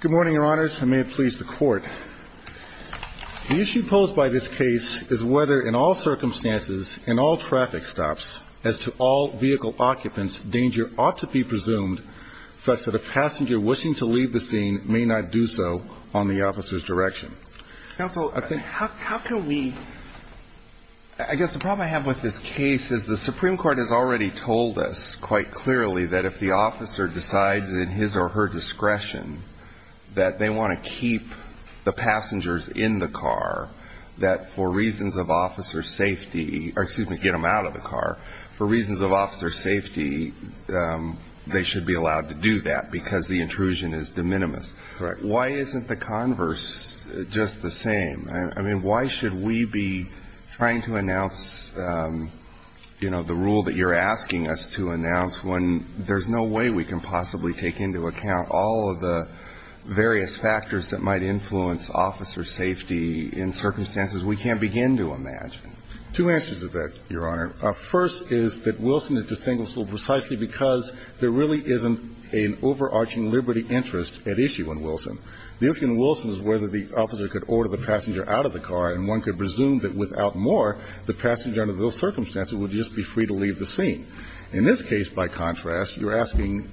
Good morning, Your Honors. I may have pleased the Court. The issue posed by this case is whether, in all circumstances, in all traffic stops, as to all vehicle occupants, danger ought to be presumed such that a passenger wishing to leave the scene may not do so on the officer's direction. Counsel, how can we? I guess the problem I have with this case is the Supreme Court has already told us quite clearly that if the officer decides in his or her discretion that they want to keep the passengers in the car, that for reasons of officer's safety, or excuse me, get them out of the car, for reasons of officer's safety, they should be allowed to do that because the intrusion is de minimis. Correct. Why isn't the converse just the same? I mean, why should we be trying to announce, you know, the rule that you're asking us to announce, when there's no way we can possibly take into account all of the various factors that might influence officer's safety in circumstances we can't begin to imagine? Two answers to that, Your Honor. First is that Wilson is distinguished precisely because there really isn't an overarching liberty interest at issue in Wilson. The issue in Wilson is whether the officer could order the passenger out of the car, and one could presume that without more, the passenger under those circumstances would just be free to leave the scene. In this case, by contrast, you're asking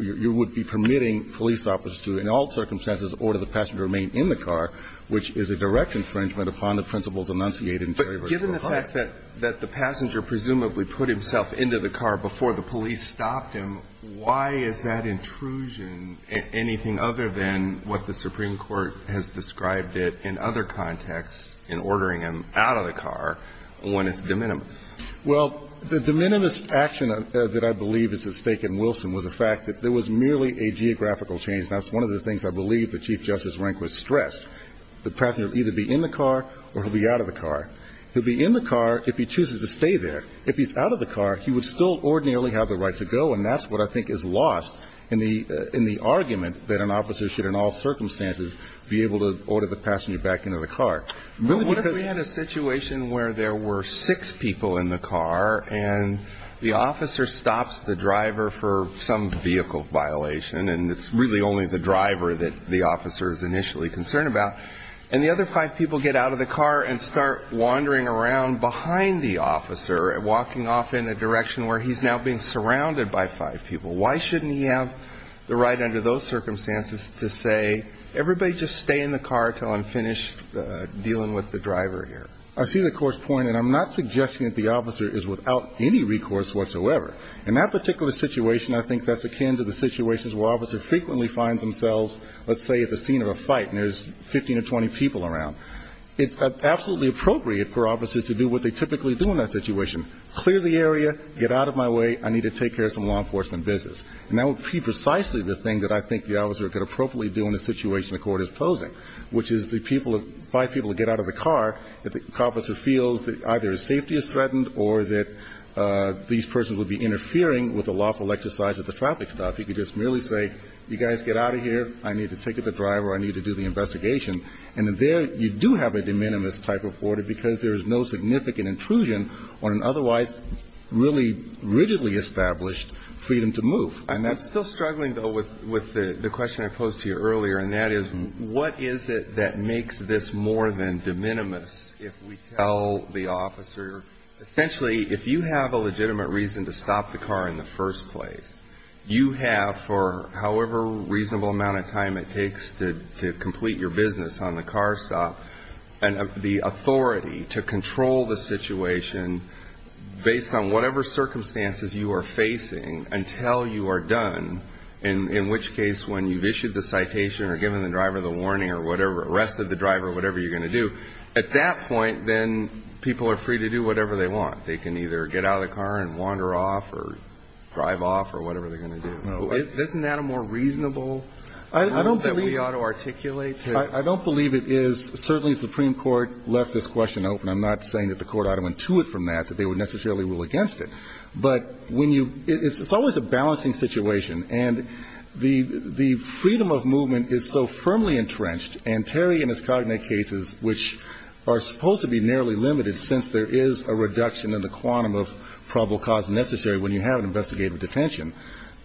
you would be permitting police officers to, in all circumstances, order the passenger to remain in the car, which is a direct infringement upon the principles enunciated in Terry v. LaFleur. But given the fact that the passenger presumably put himself into the car before the police stopped him, why is that intrusion anything other than what the Supreme Court has described it in other contexts in ordering him out of the car when it's de minimis? Well, the de minimis action that I believe is at stake in Wilson was the fact that there was merely a geographical change. That's one of the things I believe that Chief Justice Rehnquist stressed. The passenger would either be in the car or he'll be out of the car. He'll be in the car if he chooses to stay there. If he's out of the car, he would still ordinarily have the right to go, and that's what I think is lost in the argument that an officer should, in all circumstances, be able to order the passenger back into the car. What if we had a situation where there were six people in the car and the officer stops the driver for some vehicle violation, and it's really only the driver that the officer is initially concerned about, and the other five people get out of the car and start wandering around behind the officer, walking off in a direction where he's now being surrounded by five people? Why shouldn't he have the right under those circumstances to say, everybody just stay in the car until I'm finished dealing with the driver here? I see the Court's point, and I'm not suggesting that the officer is without any recourse whatsoever. In that particular situation, I think that's akin to the situations where officers frequently find themselves, let's say, at the scene of a fight, and there's 15 or 20 people around. It's absolutely appropriate for officers to do what they typically do in that situation, clear the area, get out of my way, I need to take care of some law enforcement business. And that would be precisely the thing that I think the officer could appropriately do in a situation the Court is posing, which is the people of the five people get out of the car, if the officer feels that either his safety is threatened or that these persons would be interfering with the lawful exercise of the traffic stop. He could just merely say, you guys get out of here, I need to take care of the driver, I need to do the investigation. And there you do have a de minimis type of order because there is no significant intrusion on an otherwise really rigidly established freedom to move. And that's still struggling, though, with the question I posed to you earlier. And that is, what is it that makes this more than de minimis if we tell the officer essentially if you have a legitimate reason to stop the car in the first place, you have for however reasonable amount of time it takes to complete your business on the car stop, and the authority to control the situation based on whatever circumstances you are facing until you are done, in which case when you've issued the citation or given the driver the warning or whatever, arrested the driver, whatever you're going to do, at that point, then people are free to do whatever they want. They can either get out of the car and wander off or drive off or whatever they're going to do. Isn't that a more reasonable rule that we ought to articulate? I don't believe it is. Certainly the Supreme Court left this question open. I'm not saying that the Court ought to intuit from that that they would necessarily rule against it. But when you – it's always a balancing situation. And the freedom of movement is so firmly entrenched, and Terry in his cognate cases, which are supposed to be nearly limited since there is a reduction in the quantum of probable cause necessary when you have an investigative detention,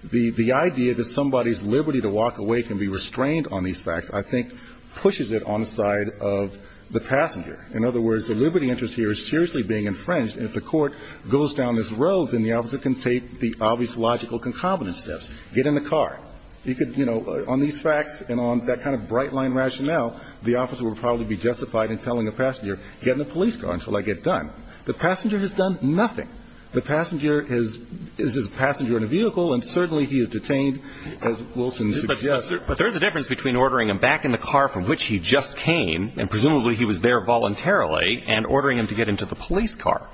the idea that somebody's liberty to walk away can be restrained on these facts, I think, pushes it on the side of the passenger. In other words, the liberty interest here is seriously being infringed. And if the Court goes down this road, then the officer can take the obvious logical concomitant steps, get in the car. You could, you know, on these facts and on that kind of bright-line rationale, the officer would probably be justified in telling the passenger, get in the police car until I get done. The passenger has done nothing. The passenger is a passenger in a vehicle, and certainly he is detained, as Wilson suggests. But there's a difference between ordering him back in the car from which he just came, and presumably he was there voluntarily, and ordering him to get into the police car.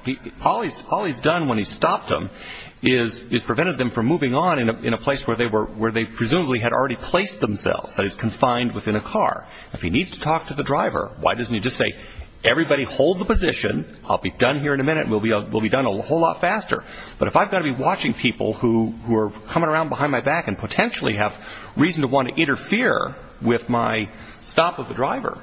All he's done when he's stopped them is prevented them from moving on in a place where they presumably had already placed themselves, that is, confined within a car. If he needs to talk to the driver, why doesn't he just say, everybody hold the position, I'll be done here in a minute, we'll be done a whole lot faster. But if I've got to be watching people who are coming around behind my back and potentially have reason to want to interfere with my stop of the driver,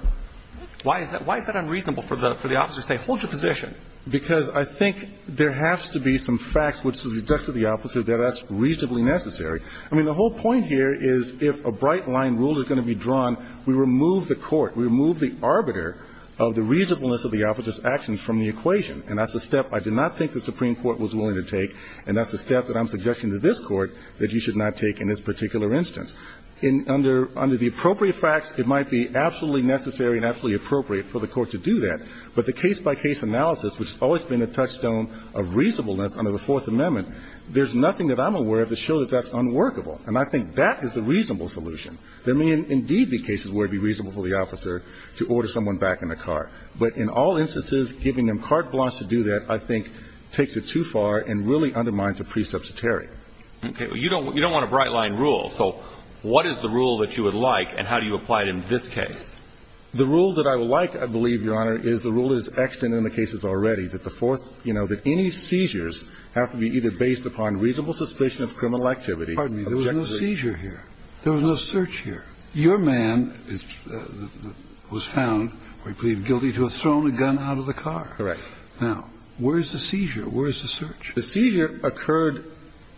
why is that unreasonable for the officer to say, hold your position? Because I think there has to be some facts which is deducted to the opposite, that that's reasonably necessary. I mean, the whole point here is if a bright-line rule is going to be drawn, we remove the court, we remove the arbiter of the reasonableness of the officer's actions from the equation, and that's a step I did not think the Supreme Court was willing to take, and that's a step that I'm suggesting to this Court that you should not take in this particular instance. Under the appropriate facts, it might be absolutely necessary and absolutely appropriate for the Court to do that, but the case-by-case analysis, which has always been a touchstone of reasonableness under the Fourth Amendment, there's nothing that I'm aware of to show that that's unworkable, and I think that is the reasonable solution. There may indeed be cases where it would be reasonable for the officer to order someone back in the car. But in all instances, giving them carte blanche to do that, I think, takes it too far and really undermines a pre-subsidiary. Okay. You don't want a bright-line rule, so what is the rule that you would like, and how do you apply it in this case? The rule that I would like, I believe, Your Honor, is the rule that is extant in the cases already, that the Fourth, you know, that any seizures have to be either based upon reasonable suspicion of criminal activity. Pardon me, there was no seizure here. There was no search here. Your man was found, I believe, guilty to have thrown a gun out of the car. Correct. Now, where is the seizure? Where is the search? The seizure occurred,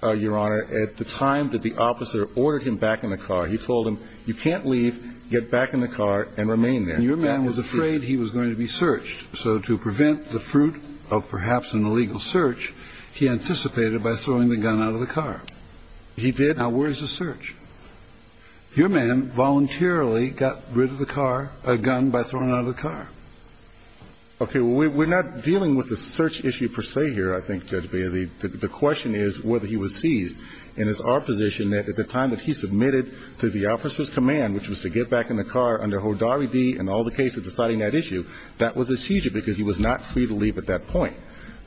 Your Honor, at the time that the officer ordered him back in the car. He told him, you can't leave, get back in the car and remain there. And your man was afraid he was going to be searched, so to prevent the fruit of perhaps an illegal search, he anticipated by throwing the gun out of the car. He did. Now, where is the search? Your man voluntarily got rid of the car, a gun, by throwing it out of the car. Okay. We're not dealing with the search issue per se here, I think, Judge Bea. The question is whether he was seized. And it's our position that at the time that he submitted to the officer's command, which was to get back in the car under Hodari D. and all the cases deciding that issue, that was a seizure because he was not free to leave at that point.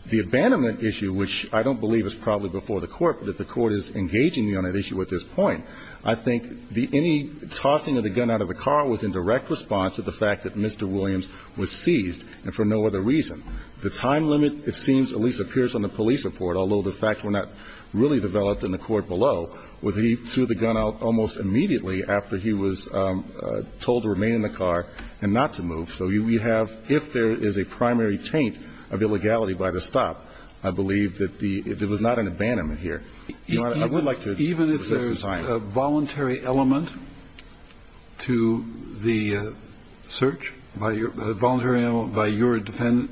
The abandonment issue, which I don't believe is probably before the Court, but if the Court is engaging me on that issue at this point, I think any tossing of the gun out of the car was in direct response to the fact that Mr. Williams was seized and for no other reason. The time limit, it seems, at least appears on the police report, although the fact were not really developed in the court below, was he threw the gun out almost immediately after he was told to remain in the car and not to move. So we have, if there is a primary taint of illegality by the stop, I believe that the – there was not an abandonment here. Your Honor, I would like to resist the time. Even if there's a voluntary element to the search, a voluntary element by your defendant?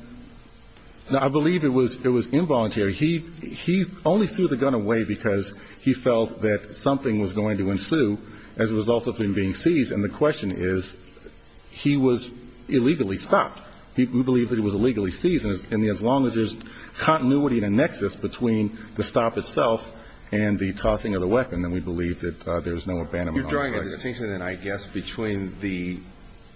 No, I believe it was involuntary. He only threw the gun away because he felt that something was going to ensue as a result of him being seized, and the question is, he was illegally stopped. We believe that he was illegally seized. And as long as there's continuity and a nexus between the stop itself and the tossing of the weapon, then we believe that there's no abandonment on the case. You're drawing a distinction, then, I guess, between the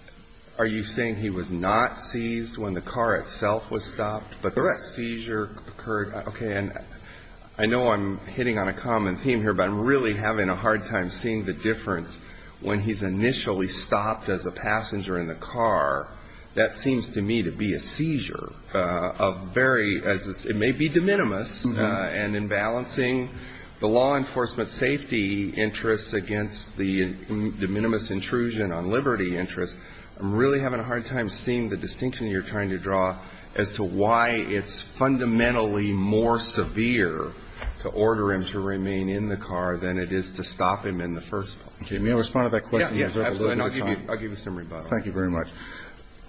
– are you saying he was not seized when the car itself was stopped, but the seizure occurred – Correct. Okay. And I know I'm hitting on a common theme here, but I'm really having a hard time seeing the difference when he's initially stopped as a passenger in the car. That seems to me to be a seizure of very – it may be de minimis, and in balancing the law enforcement safety interests against the de minimis intrusion on liberty interests, I'm really having a hard time seeing the distinction you're trying to draw as to why it's fundamentally more severe to order him to remain in the car than it is to stop him in the first place. Okay. May I respond to that question? Yes, absolutely. And I'll give you some rebuttal. Thank you very much.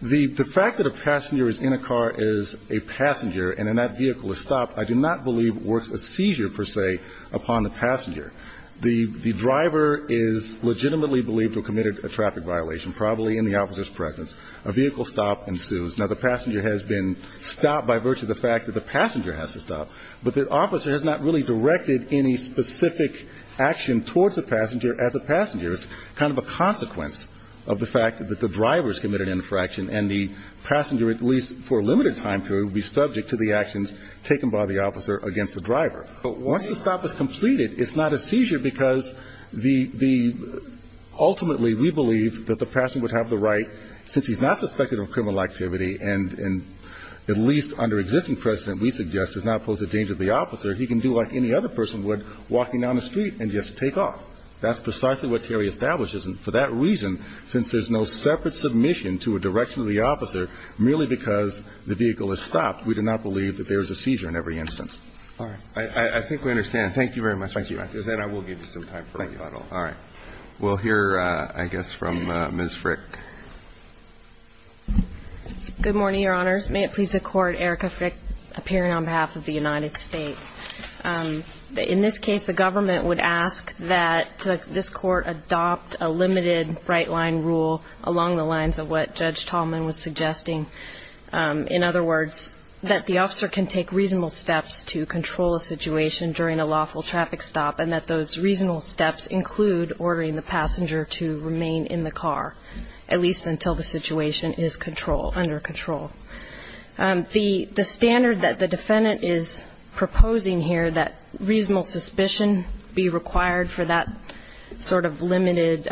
The fact that a passenger is in a car as a passenger and then that vehicle is stopped, I do not believe works as seizure, per se, upon the passenger. The driver is legitimately believed to have committed a traffic violation, probably in the officer's presence. A vehicle stop ensues. Now, the passenger has been stopped by virtue of the fact that the passenger has to stop, but the officer has not really directed any specific action towards the passenger as a passenger. It's kind of a consequence of the fact that the driver has committed an infraction and the passenger, at least for a limited time period, will be subject to the actions taken by the officer against the driver. Once the stop is completed, it's not a seizure because the ultimately we believe that the passenger would have the right, since he's not suspected of criminal activity and at least under existing precedent, we suggest, does not pose a danger to the officer. He can do like any other person would, walking down the street and just take off. That's precisely what Terry establishes, and for that reason, since there's no separate submission to a direction of the officer, merely because the vehicle is stopped, we do not believe that there is a seizure in every instance. Roberts. I think we understand. Thank you very much. Thank you. And I will give you some time for rebuttal. All right. We'll hear, I guess, from Ms. Frick. Good morning, Your Honors. May it please the Court, Erica Frick, appearing on behalf of the United States. In this case, the government would ask that this Court adopt a limited right-line rule along the lines of what Judge Tallman was suggesting. In other words, that the officer can take reasonable steps to control a situation during a lawful traffic stop, and that those reasonable steps include ordering the passenger to remain in the car, at least until the situation is under control. The standard that the defendant is proposing here, that reasonable suspicion be required for that sort of limited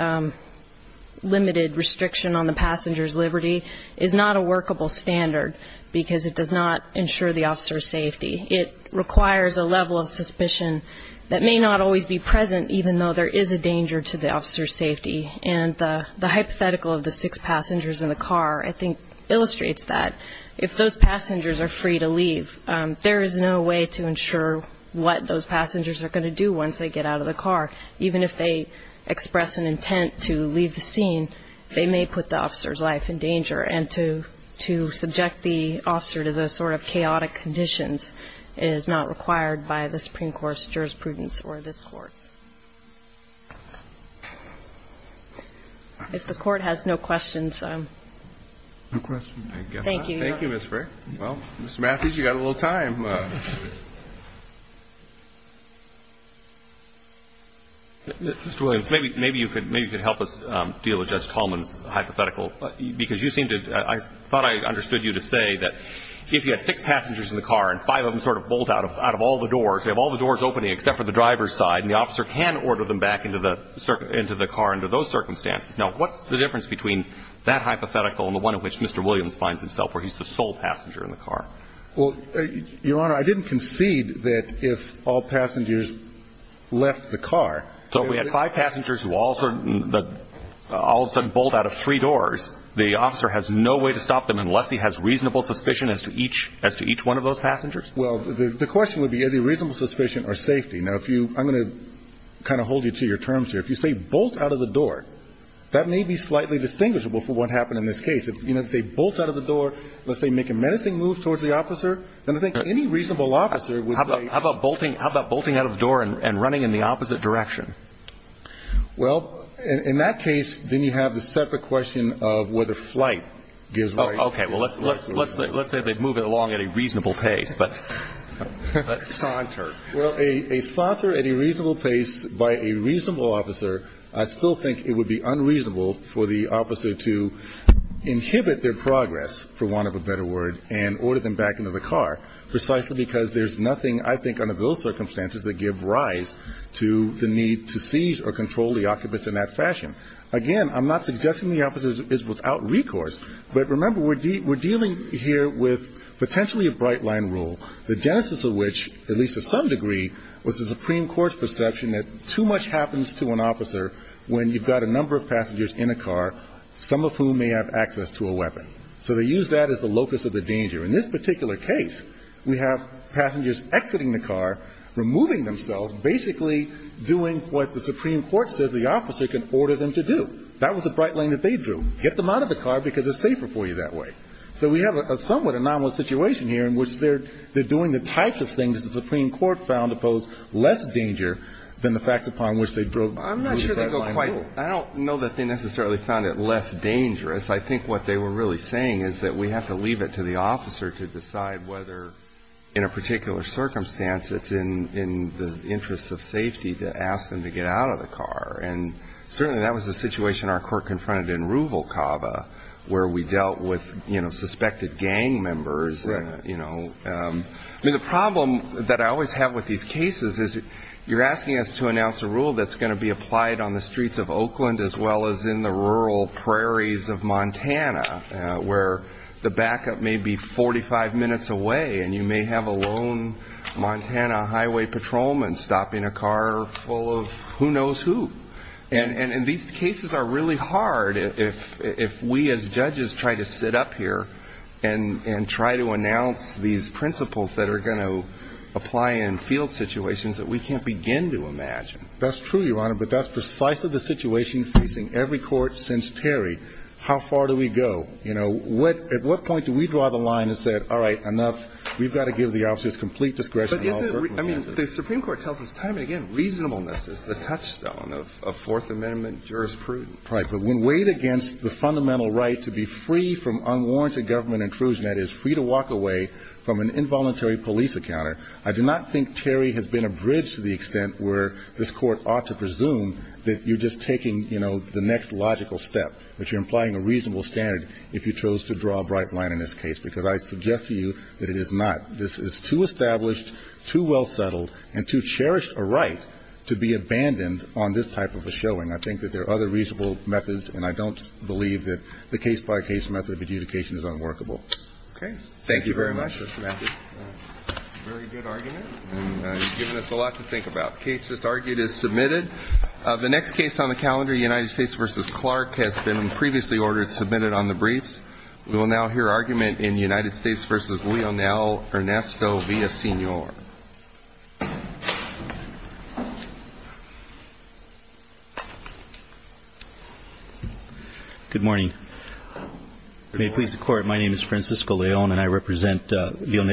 restriction on the passenger's liberty, is not a workable standard, because it does not ensure the officer's safety. It requires a level of suspicion that may not always be present, even though there is a danger to the officer's safety. And the hypothetical of the six passengers in the car, I think, illustrates that. If those passengers are free to leave, there is no way to ensure what those passengers are going to do once they get out of the car. Even if they express an intent to leave the scene, they may put the officer's life in danger. And to subject the officer to those sort of chaotic conditions is not required by the Supreme Court's jurisprudence or this Court's. If the Court has no questions. No questions. Thank you. Thank you, Ms. Frick. Well, Mr. Matthews, you've got a little time. Mr. Williams, maybe you could help us deal with Judge Tallman's hypothetical, because you seem to – I thought I understood you to say that if you had six passengers in the car and five of them sort of bolt out of all the doors, they have all the doors opening except for the driver's side, and the officer can order them back into the car, under those circumstances. Now, what's the difference between that hypothetical and the one in which Mr. Williams finds himself, where he's the sole passenger in the car? Well, Your Honor, I didn't concede that if all passengers left the car – So if we had five passengers who all of a sudden bolt out of three doors, the officer has no way to stop them unless he has reasonable suspicion as to each – as to each one of those passengers? Well, the question would be, is there reasonable suspicion or safety? Now, if you – I'm going to kind of hold you to your terms here. If you say bolt out of the door, that may be slightly distinguishable from what happened in this case. You know, if they bolt out of the door, let's say make a menacing move towards the officer, then I think any reasonable officer would say – How about bolting – how about bolting out of the door and running in the opposite direction? Well, in that case, then you have the separate question of whether flight gives – Oh, okay. Well, let's say they move it along at a reasonable pace, but – Saunter. Well, a – a saunter at a reasonable pace by a reasonable officer, I still think it would be unreasonable for the officer to inhibit their progress, for want of a better word, and order them back into the car, precisely because there's nothing, I think, under those circumstances that give rise to the need to siege or control the occupants in that fashion. Again, I'm not suggesting the officer is without recourse, but remember, we're dealing here with potentially a bright-line rule, the genesis of which, at least to some degree, was the Supreme Court's perception that too much happens to an officer when you've got a number of passengers in a car, some of whom may have access to a weapon. So they used that as the locus of the danger. In this particular case, we have passengers exiting the car, removing themselves, basically doing what the Supreme Court says the officer can order them to do. That was the bright line that they drew. Get them out of the car, because it's safer for you that way. So we have a somewhat anomalous situation here in which they're – they're doing the types of things the Supreme Court found to pose less danger than the facts upon which they drew the bright-line rule. I'm not sure they go quite – I don't know that they necessarily found it less dangerous. I think what they were really saying is that we have to leave it to the officer to decide whether, in a particular circumstance, it's in the interest of safety to ask them to get out of the car. And certainly that was the situation our court confronted in Ruvalcaba, where we dealt with, you know, suspected gang members, you know. I mean, the problem that I always have with these cases is you're asking us to announce a rule that's going to be applied on the streets of Oakland as well as in the rural prairies of Montana, where the backup may be 45 minutes away and you may have a lone Montana highway patrolman stopping a car full of who knows who. And these cases are really hard if we as judges try to sit up here and try to announce these principles that are going to apply in field situations that we can't begin to imagine. That's true, Your Honor, but that's precisely the situation facing every court since Terry. How far do we go? You know, at what point do we draw the line and say, all right, enough, we've got to give the officers complete discretion? But is it – I mean, the Supreme Court tells us time and again reasonableness is the touchstone of Fourth Amendment jurisprudence. Right. But when weighed against the fundamental right to be free from unwarranted government intrusion, that is, free to walk away from an involuntary police encounter, I do not think Terry has been abridged to the extent where this Court ought to presume that you're just taking, you know, the next logical step, which you're implying a reasonable standard if you chose to draw a bright line in this case, because I suggest to you that it is not. This is too established, too well settled, and too cherished a right to be abandoned on this type of a showing. I think that there are other reasonable methods, and I don't believe that the case-by-case method of adjudication is unworkable. Okay. Thank you very much, Mr. Matthews. Very good argument, and you've given us a lot to think about. The case just argued is submitted. The next case on the calendar, United States v. Clark, has been previously ordered to be submitted on the briefs. We will now hear argument in United States v. Leonel Ernesto Villasenor. Good morning. May it please the Court, my name is Francisco Leon, and I represent United States.